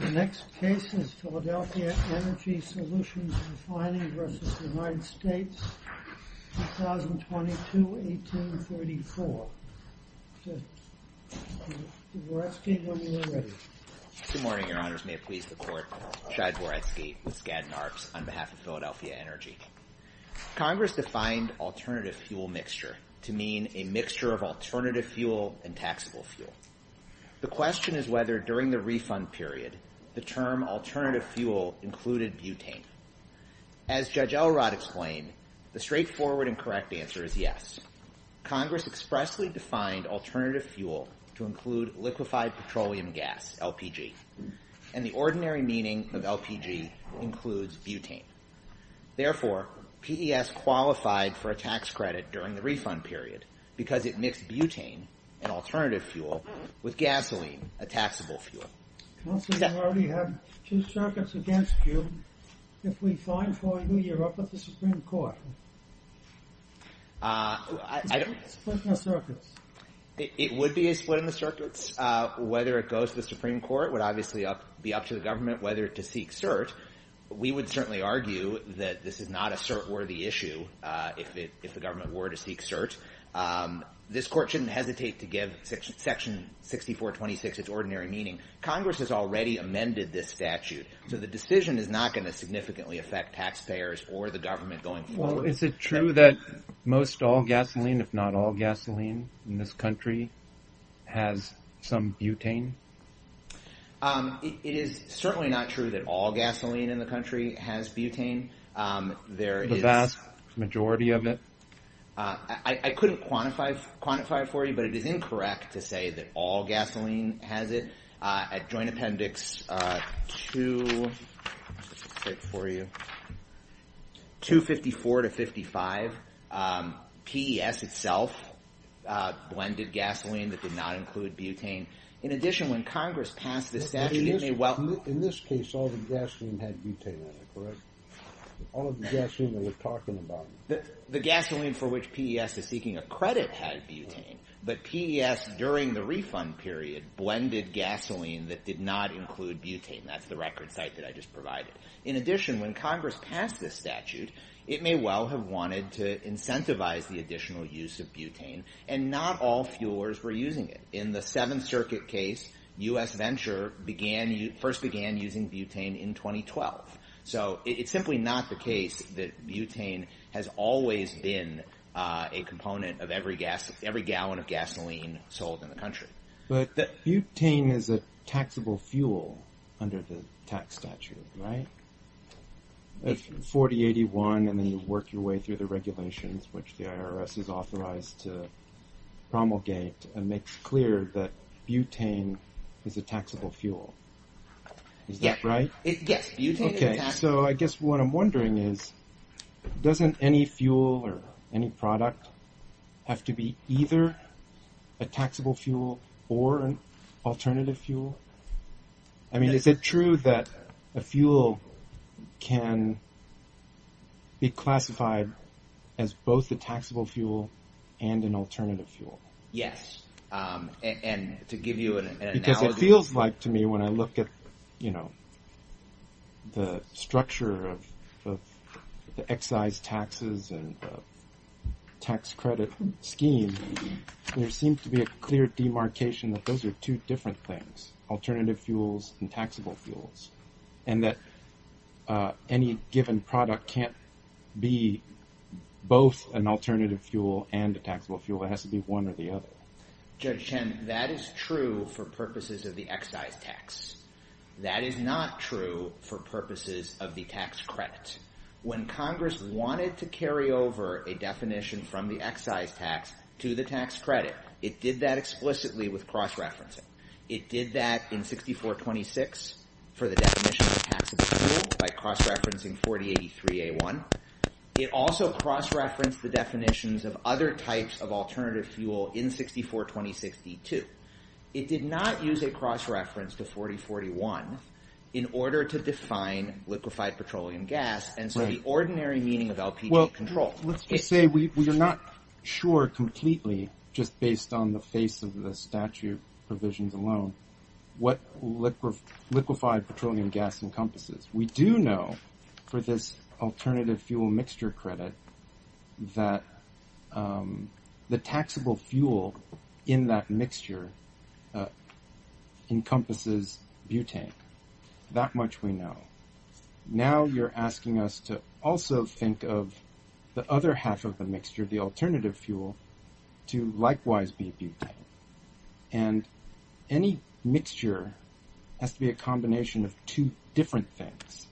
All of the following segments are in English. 2022-18-34 Chai Dvoretsky, when you are ready. Good morning, Your Honors. May it please the Court, Chai Dvoretsky with Skadden Arps on behalf of Philadelphia Energy. Congress defined alternative fuel mixture to mean a mixture of alternative fuel and taxable fuel. The question is whether during the refund period the term alternative fuel included butane. As Judge Elrod explained, the straightforward and correct answer is yes. Congress expressly defined alternative fuel to include liquefied petroleum gas, LPG, and the ordinary meaning of LPG includes butane. Therefore, PES qualified for a tax credit during the refund period because it mixed butane, an alternative fuel, with gasoline, a taxable fuel. Counsel, you already have two circuits against you. If we sign for you, you're up with the Supreme Court. It's a split in the circuits. It would be a split in the circuits. Whether it goes to the Supreme Court would obviously be up to the government whether to seek cert. We would certainly argue that this is not a cert-worthy issue if the government were to seek cert. This Court shouldn't hesitate to give Section 6426 its ordinary meaning. Congress has already amended this statute, so the decision is not going to significantly affect taxpayers or the government going forward. Is it true that most all gasoline, if not all gasoline, in this country has some butane? It is certainly not true that all gasoline in the country has butane. The vast majority of it? I couldn't quantify it for you, but it is incorrect to say that all gasoline has it. At Joint Appendix 254 to 55, PES itself blended gasoline that did not include butane. In addition when Congress passed this statute, it may well have wanted to incentivize the additional use of butane. Not all fuelers were using it. In the Seventh Circuit case, U.S. Venture first began using butane in 2012. It's simply not the case that butane has always been a component of every gallon of gasoline sold in the country. But butane is a taxable fuel under the tax statute, right? It's 4081 and then you work your way through the regulations which the IRS has authorized to promulgate and makes clear that butane is a taxable fuel. Is that right? Yes, butane is a taxable fuel. So I guess what I'm wondering is, doesn't any fuel or any product have to be either a taxable fuel or an alternative fuel? I mean is it true that a fuel can be classified as both a taxable fuel and an alternative fuel? Yes, and to give you an analogy... Because it feels like to me when I look at the structure of the excise taxes and tax credit scheme, there seems to be a clear demarcation that those are two different things, alternative fuels and taxable fuels, and that any given product can't be both an alternative fuel and a taxable fuel. It has to be one or the other. Judge Chen, that is true for purposes of the excise tax. That is not true for purposes of the tax credit. When Congress wanted to carry over a definition from the excise tax to the tax credit, it did that explicitly with cross-referencing. It did that in 6426 for the definition of taxable fuel by cross-referencing 4083A1. It also cross-referenced the definitions of other types of alternative fuel in 642062. It did not use a cross-reference to 4041 in order to define liquefied petroleum gas, and so the ordinary meaning of LPG control... just based on the face of the statute provisions alone, what liquefied petroleum gas encompasses. We do know for this alternative fuel mixture credit that the taxable fuel in that mixture encompasses butane. That much we know. Now you're asking us to also think of the other half of the mixture, the alternative fuel, to likewise be butane, and any mixture has to be a combination of two different things,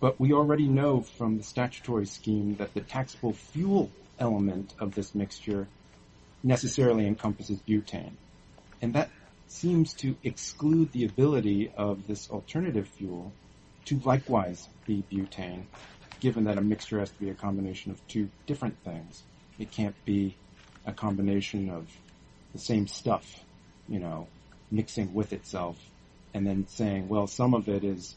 but we already know from the statutory scheme that the taxable fuel element of this mixture necessarily encompasses butane, and that seems to exclude the ability of this alternative fuel to likewise be butane, given that a mixture has to be a combination of two different things. It can't be a combination of the same stuff, you know, mixing with itself, and then saying, well, some of it is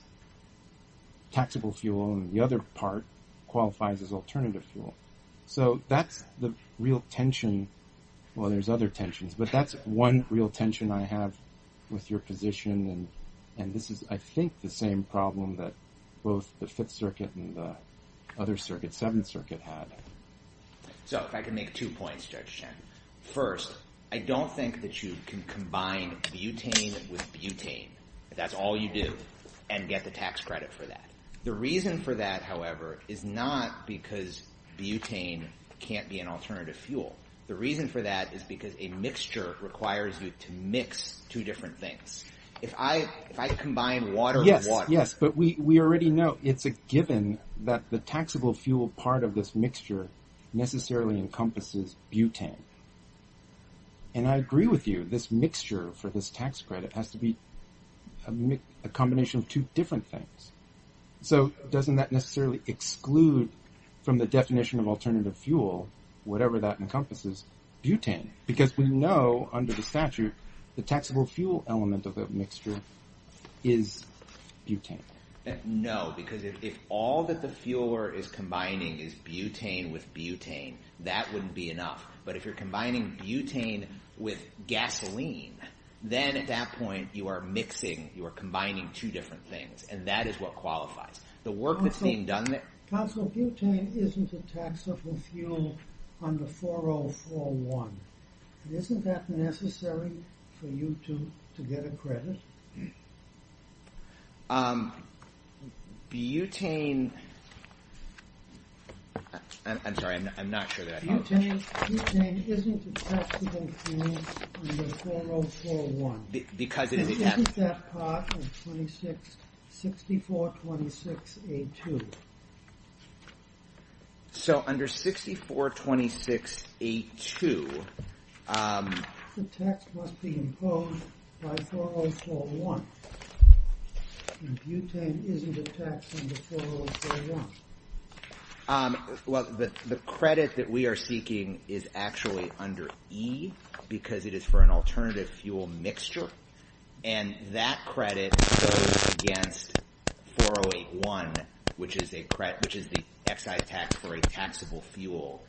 taxable fuel and the other part qualifies as alternative fuel. So that's the real tension. Well, there's other tensions, but that's one real tension I have with your position, and this is, I think, the same problem that both the Fifth Circuit and the other circuit, Seventh Circuit, had. So if I could make two points, Judge Chen. First, I don't think that you can combine butane with butane, if that's all you do, and get the tax credit for that. The reason for that, however, is not because butane can't be an alternative fuel. The reason for that is because a mixture requires you to mix two different things. If I combine water and water... Yes, yes, but we already know it's a given that the taxable fuel part of this mixture necessarily encompasses butane. And I agree with you, this mixture for this tax credit has to be a combination of two different things. So doesn't that necessarily exclude from the because we know, under the statute, the taxable fuel element of that mixture is butane. No, because if all that the fueler is combining is butane with butane, that wouldn't be enough. But if you're combining butane with gasoline, then at that point you are mixing, you are combining two different things, and that is what qualifies. The work that's being done... Counselor, butane isn't a taxable fuel under 4041. Isn't that necessary for you to get a credit? Butane... I'm sorry, I'm not sure that I... Butane isn't a taxable fuel under 4041. What's that part of 6426A2? So under 6426A2... The tax must be imposed by 4041. And butane isn't a tax under 4041. Well, the credit that we are seeking is actually under E, because it is for an alternative fuel mixture. And that credit goes against 4081, which is the excise tax for a taxable fuel,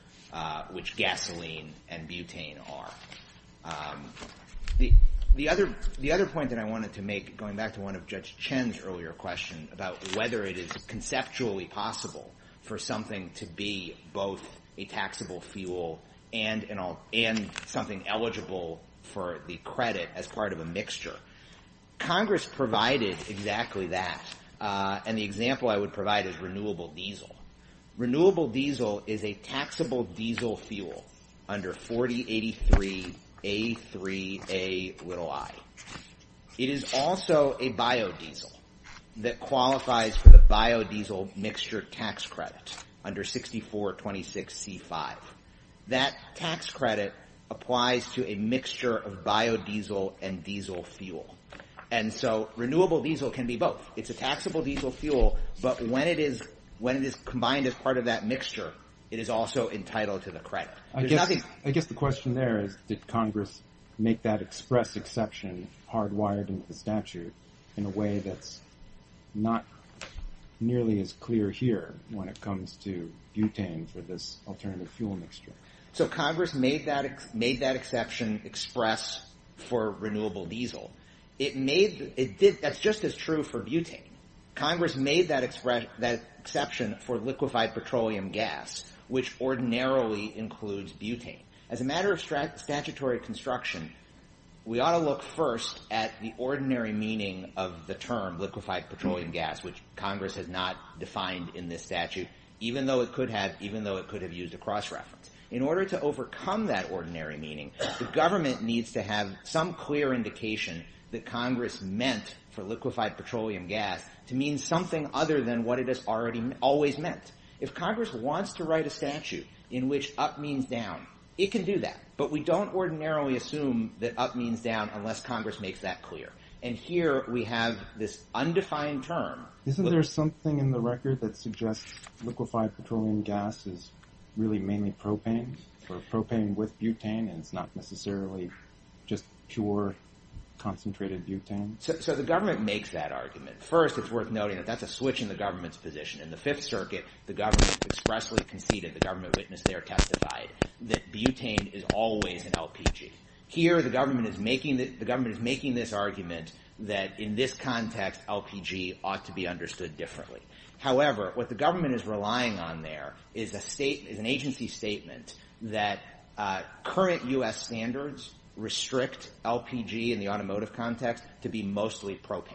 which gasoline and butane are. The other point that I wanted to make, going back to one of Judge Chen's earlier questions, about whether it is conceptually possible for something to be both a taxable fuel and something eligible for the credit as part of a mixture. Congress provided exactly that, and the example I would provide is renewable diesel. Renewable diesel is a taxable diesel fuel under 4083A3Ai. It is also a biodiesel that qualifies for the biodiesel mixture tax credit under 6426C5. That tax credit applies to a mixture of biodiesel and diesel fuel. And so renewable diesel can be both. It's a taxable diesel fuel, but when it is combined as part of that mixture, it is also entitled to the credit. I guess the question there is, did Congress make that express exception hardwired into the statute in a way that's not nearly as clear here when it comes to butane for this alternative fuel mixture? So Congress made that exception express for renewable diesel. That's just as true for butane. Congress made that exception for liquefied petroleum gas, which ordinarily includes butane. As a matter of statutory construction, we ought to look first at the ordinary meaning of the term liquefied petroleum gas, which Congress has not defined in this statute, even though it could have used a cross-reference. In order to overcome that ordinary meaning, the government needs to have some clear indication that Congress meant for liquefied petroleum gas to mean something other than what it has always meant. If Congress wants to write a statute in which up means down, it can do that. But we don't ordinarily assume that up means down unless Congress makes that clear. And here we have this undefined term. Isn't there something in the record that suggests liquefied petroleum gas is really mainly propane or propane with butane and it's not necessarily just pure concentrated butane? So the government makes that argument. First, it's worth noting that that's a switch in the government's position. In the Fifth Circuit, the government expressly conceded, the government witnessed there testified, that butane is always an LPG. Here the government is making this argument that in this context LPG ought to be understood differently. However, what the government is relying on there is an agency statement that current U.S. standards restrict LPG in the automotive context to be mostly propane.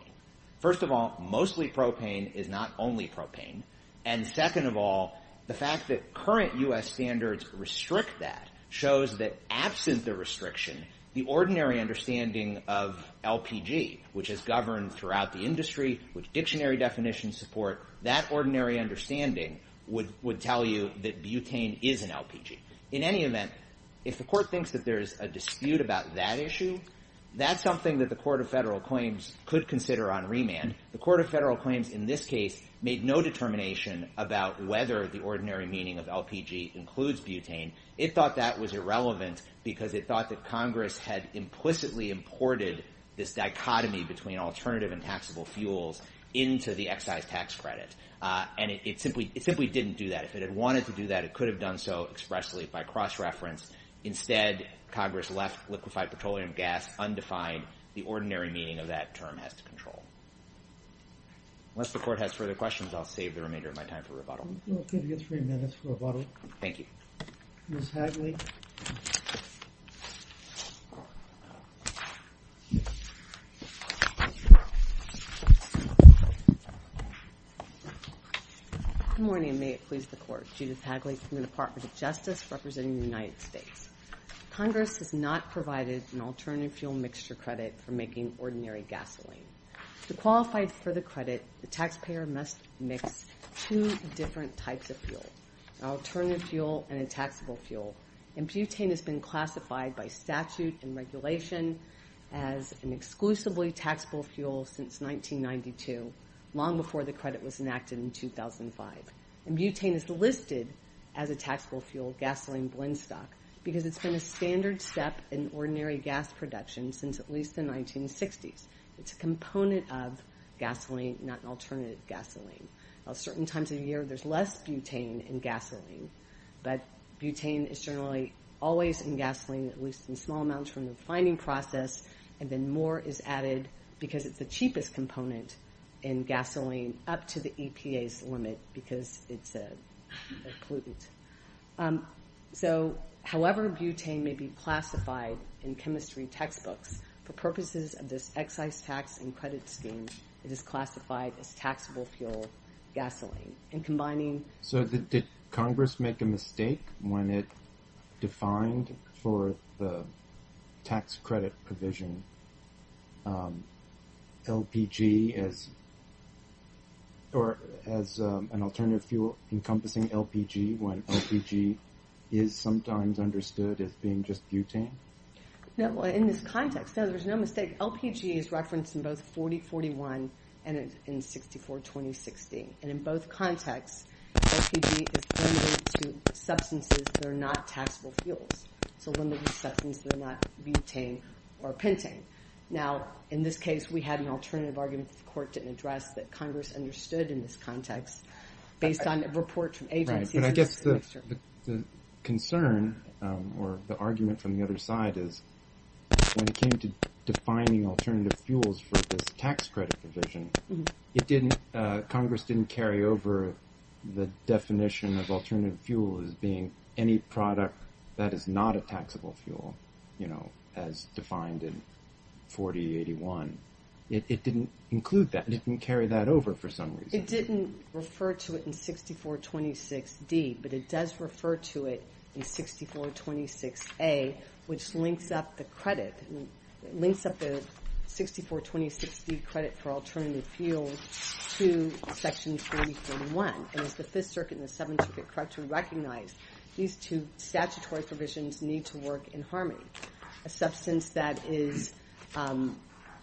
First of all, mostly propane is not only propane. And second of all, the fact that current U.S. standards restrict that shows that absent the restriction, the ordinary understanding of LPG, which is governed throughout the industry, which dictionary definitions support, that ordinary understanding would tell you that butane is an LPG. In any event, if the court thinks that there is a dispute about that issue, that's something that the Court of Federal Claims could consider on remand. The Court of Federal Claims in this case made no determination about whether the ordinary meaning of LPG includes butane. It thought that was irrelevant because it thought that Congress had implicitly imported this dichotomy between alternative and taxable fuels into the excise tax credit. And it simply didn't do that. If it had wanted to do that, it could have done so expressly by cross-reference. Instead, Congress left liquefied petroleum gas undefined. The ordinary meaning of that term has to control. Unless the Court has further questions, I'll save the remainder of my time for rebuttal. We'll give you three minutes for rebuttal. Thank you. Ms. Hagley. Good morning, and may it please the Court. Judith Hagley from the Department of Justice representing the United States. Congress has not provided an alternative fuel mixture credit for making ordinary gasoline. To qualify for the credit, the taxpayer must mix two different types of fuel, an alternative fuel and a taxable fuel. And butane has been classified by statute and regulation as an exclusively taxable fuel since 1992, long before the credit was enacted in 2005. And butane is listed as a taxable fuel gasoline blend stock because it's been a standard step in ordinary gas production since at least the 1960s. It's a component of gasoline, not an alternative gasoline. At certain times of the year, there's less butane in gasoline, but butane is generally always in gasoline, at least in small amounts, from the refining process. And then more is added because it's the cheapest component in gasoline up to the EPA's limit because it's a pollutant. So however butane may be classified in chemistry textbooks, for purposes of this excise tax and credit scheme, it is classified as taxable fuel gasoline. And combining— Did Congress make a mistake when it defined for the tax credit provision LPG as— or as an alternative fuel encompassing LPG when LPG is sometimes understood as being just butane? No, in this context, no, there's no mistake. LPG is referenced in both 4041 and in 642060. And in both contexts, LPG is limited to substances that are not taxable fuels, so limited to substances that are not butane or pentane. Now, in this case, we had an alternative argument that the court didn't address that Congress understood in this context based on a report from agencies— Right, but I guess the concern or the argument from the other side is when it came to defining alternative fuels for this tax credit provision, it didn't—Congress didn't carry over the definition of alternative fuel as being any product that is not a taxable fuel, you know, as defined in 4081. It didn't include that. It didn't carry that over for some reason. It didn't refer to it in 6426D, but it does refer to it in 6426A, which links up the credit—links up the 6426D credit for alternative fuel to Section 4041. And as the Fifth Circuit and the Seventh Circuit correctly recognized, these two statutory provisions need to work in harmony. A substance that is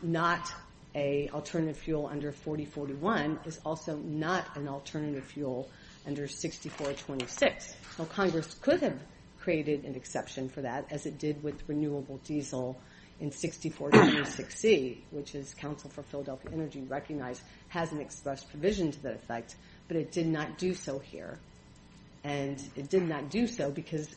not an alternative fuel under 4041 is also not an alternative fuel under 6426. So Congress could have created an exception for that as it did with renewable diesel in 6426C, which as Council for Philadelphia Energy recognized, hasn't expressed provision to that effect, but it did not do so here. And it did not do so because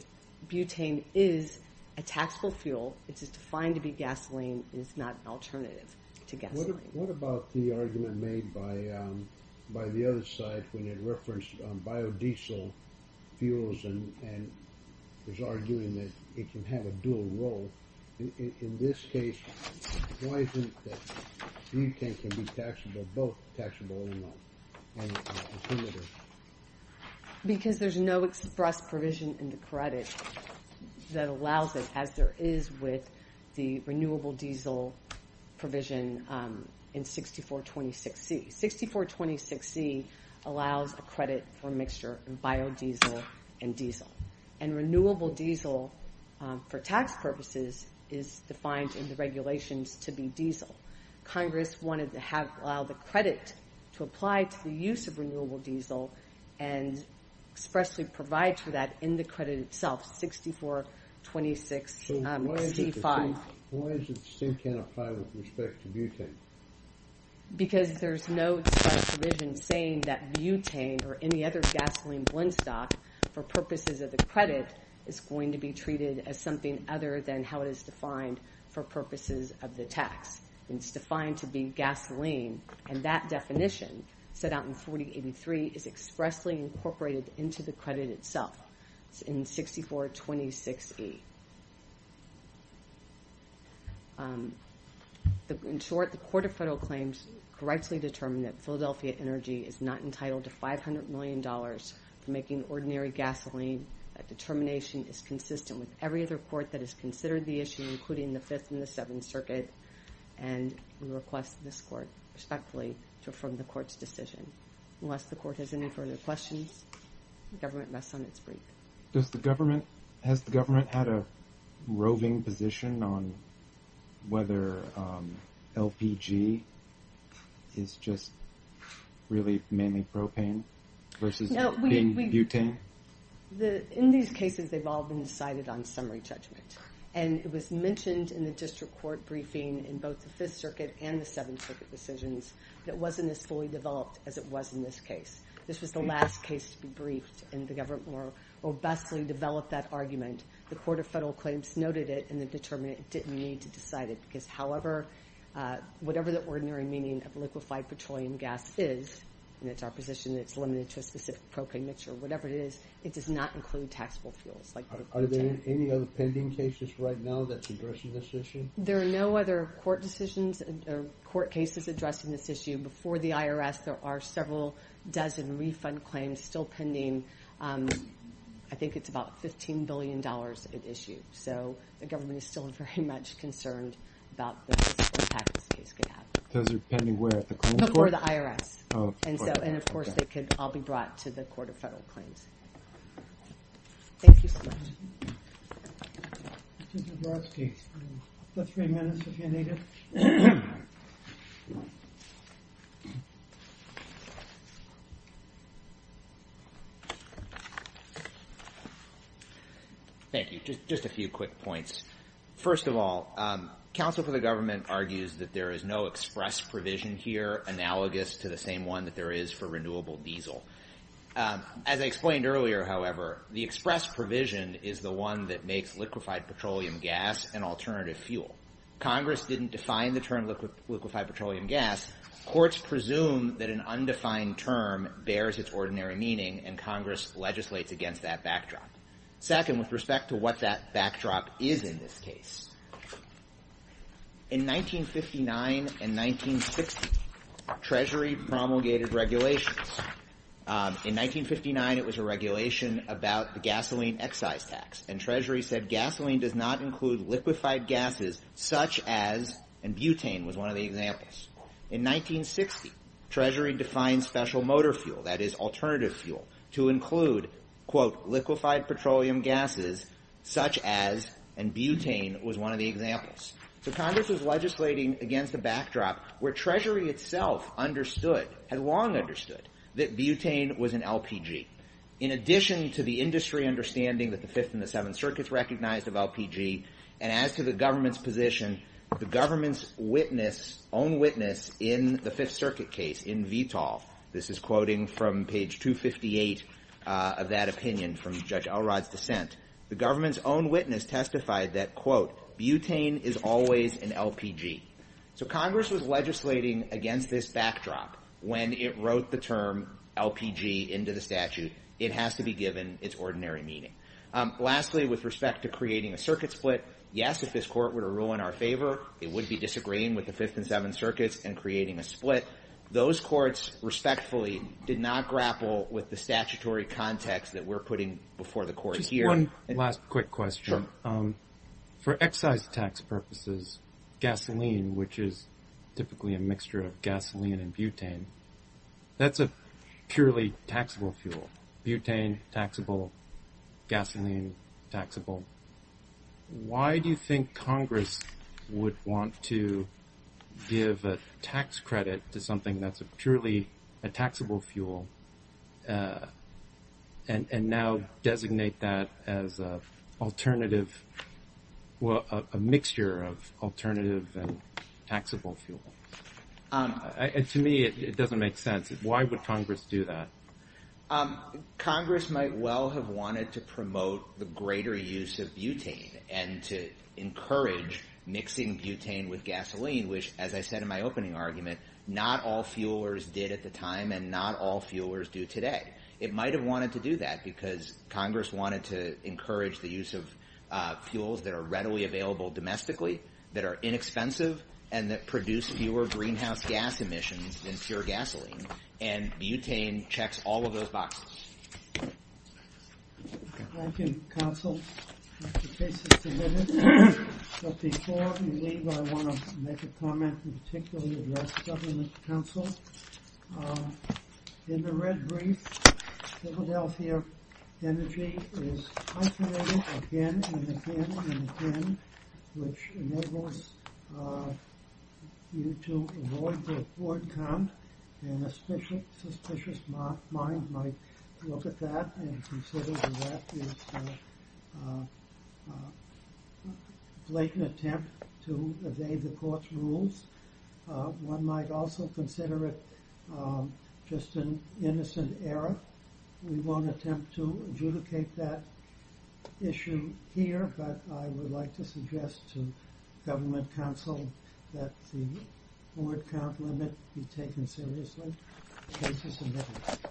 butane is a taxable fuel. It is defined to be gasoline. It is not an alternative to gasoline. What about the argument made by the other side when it referenced biodiesel fuels and was arguing that it can have a dual role? In this case, why isn't it that butane can be taxable, both taxable and alternative? Because there's no express provision in the credit that allows it, as there is with the renewable diesel provision in 6426C. 6426C allows a credit for mixture of biodiesel and diesel. And renewable diesel for tax purposes is defined in the regulations to be diesel. Congress wanted to allow the credit to apply to the use of renewable diesel and expressly provide for that in the credit itself, 6426C-5. So why is it that steam can't apply with respect to butane? Because there's no such provision saying that butane or any other gasoline blend stock for purposes of the credit is going to be treated as something other than how it is defined for purposes of the tax. It's defined to be gasoline, and that definition set out in 4083 is expressly incorporated into the credit itself in 6426E. In short, the Court of Federal Claims correctly determined that Philadelphia Energy is not entitled to $500 million for making ordinary gasoline. That determination is consistent with every other court that has considered the issue, including the Fifth and the Seventh Circuit, and we request this court respectfully to affirm the court's decision. Unless the court has any further questions, the government rests on its brief. Has the government had a roving position on whether LPG is just really mainly propane versus being butane? In these cases, they've all been decided on summary judgment, and it was mentioned in the district court briefing in both the Fifth Circuit and the Seventh Circuit decisions that it wasn't as fully developed as it was in this case. This was the last case to be briefed, and the government more robustly developed that argument. The Court of Federal Claims noted it and determined it didn't need to decide it because, however, whatever the ordinary meaning of liquefied petroleum gas is, and it's our position that it's limited to a specific propane mixture, whatever it is, it does not include taxable fuels like butane. Are there any other pending cases right now that's addressing this issue? There are no other court decisions or court cases addressing this issue. Before the IRS, there are several dozen refund claims still pending. I think it's about $15 billion at issue, so the government is still very much concerned about the impact this case could have. Those are pending where? At the criminal court? No, before the IRS. Oh, okay. And, of course, they could all be brought to the Court of Federal Claims. Thank you, sir. Mr. Zabrowski, you have three minutes if you need it. Thank you. Just a few quick points. First of all, counsel for the government argues that there is no express provision here analogous to the same one that there is for renewable diesel. As I explained earlier, however, the express provision is the one that makes liquefied petroleum gas an alternative fuel. Congress didn't define the term liquefied petroleum gas. Courts presume that an undefined term bears its ordinary meaning, and Congress legislates against that backdrop. Second, with respect to what that backdrop is in this case, in 1959 and 1960, Treasury promulgated regulations. In 1959, it was a regulation about the gasoline excise tax, and Treasury said gasoline does not include liquefied gases such as, and butane was one of the examples. In 1960, Treasury defined special motor fuel, that is, alternative fuel, to include, quote, liquefied petroleum gases such as, and butane was one of the examples. So Congress was legislating against a backdrop where Treasury itself understood, had long understood, that butane was an LPG. In addition to the industry understanding that the Fifth and the Seventh Circuits recognized of LPG, and as to the government's position, the government's witness, own witness in the Fifth Circuit case in VTOL, this is quoting from page 258 of that opinion from Judge Elrod's dissent, the government's own witness testified that, quote, butane is always an LPG. So Congress was legislating against this backdrop when it wrote the term LPG into the statute. It has to be given its ordinary meaning. Lastly, with respect to creating a circuit split, yes, if this Court were to rule in our favor, it would be disagreeing with the Fifth and Seventh Circuits and creating a split. Those courts, respectfully, did not grapple with the statutory context that we're putting before the Court here. Just one last quick question. Sure. For excise tax purposes, gasoline, which is typically a mixture of gasoline and butane, that's a purely taxable fuel. Butane, taxable. Gasoline, taxable. Why do you think Congress would want to give a tax credit to something that's purely a taxable fuel and now designate that as an alternative, a mixture of alternative and taxable fuel? To me, it doesn't make sense. Why would Congress do that? Congress might well have wanted to promote the greater use of butane and to encourage mixing butane with gasoline, which, as I said in my opening argument, not all fuelers did at the time and not all fuelers do today. It might have wanted to do that because Congress wanted to encourage the use of fuels that are readily available domestically, that are inexpensive, and that produce fewer greenhouse gas emissions than pure gasoline. And butane checks all of those boxes. Thank you, counsel. The case is submitted. But before we leave, I want to make a comment and particularly address Governor's counsel. In the red brief, Philadelphia Energy is isolated again and again and again, which enables you to avoid the Ford Comp and a suspicious mind might look at that and consider that as a blatant attempt to evade the court's rules. One might also consider it just an innocent error. We won't attempt to adjudicate that issue here, but I would like to suggest to government counsel that the Ford Comp limit be taken seriously. The case is submitted.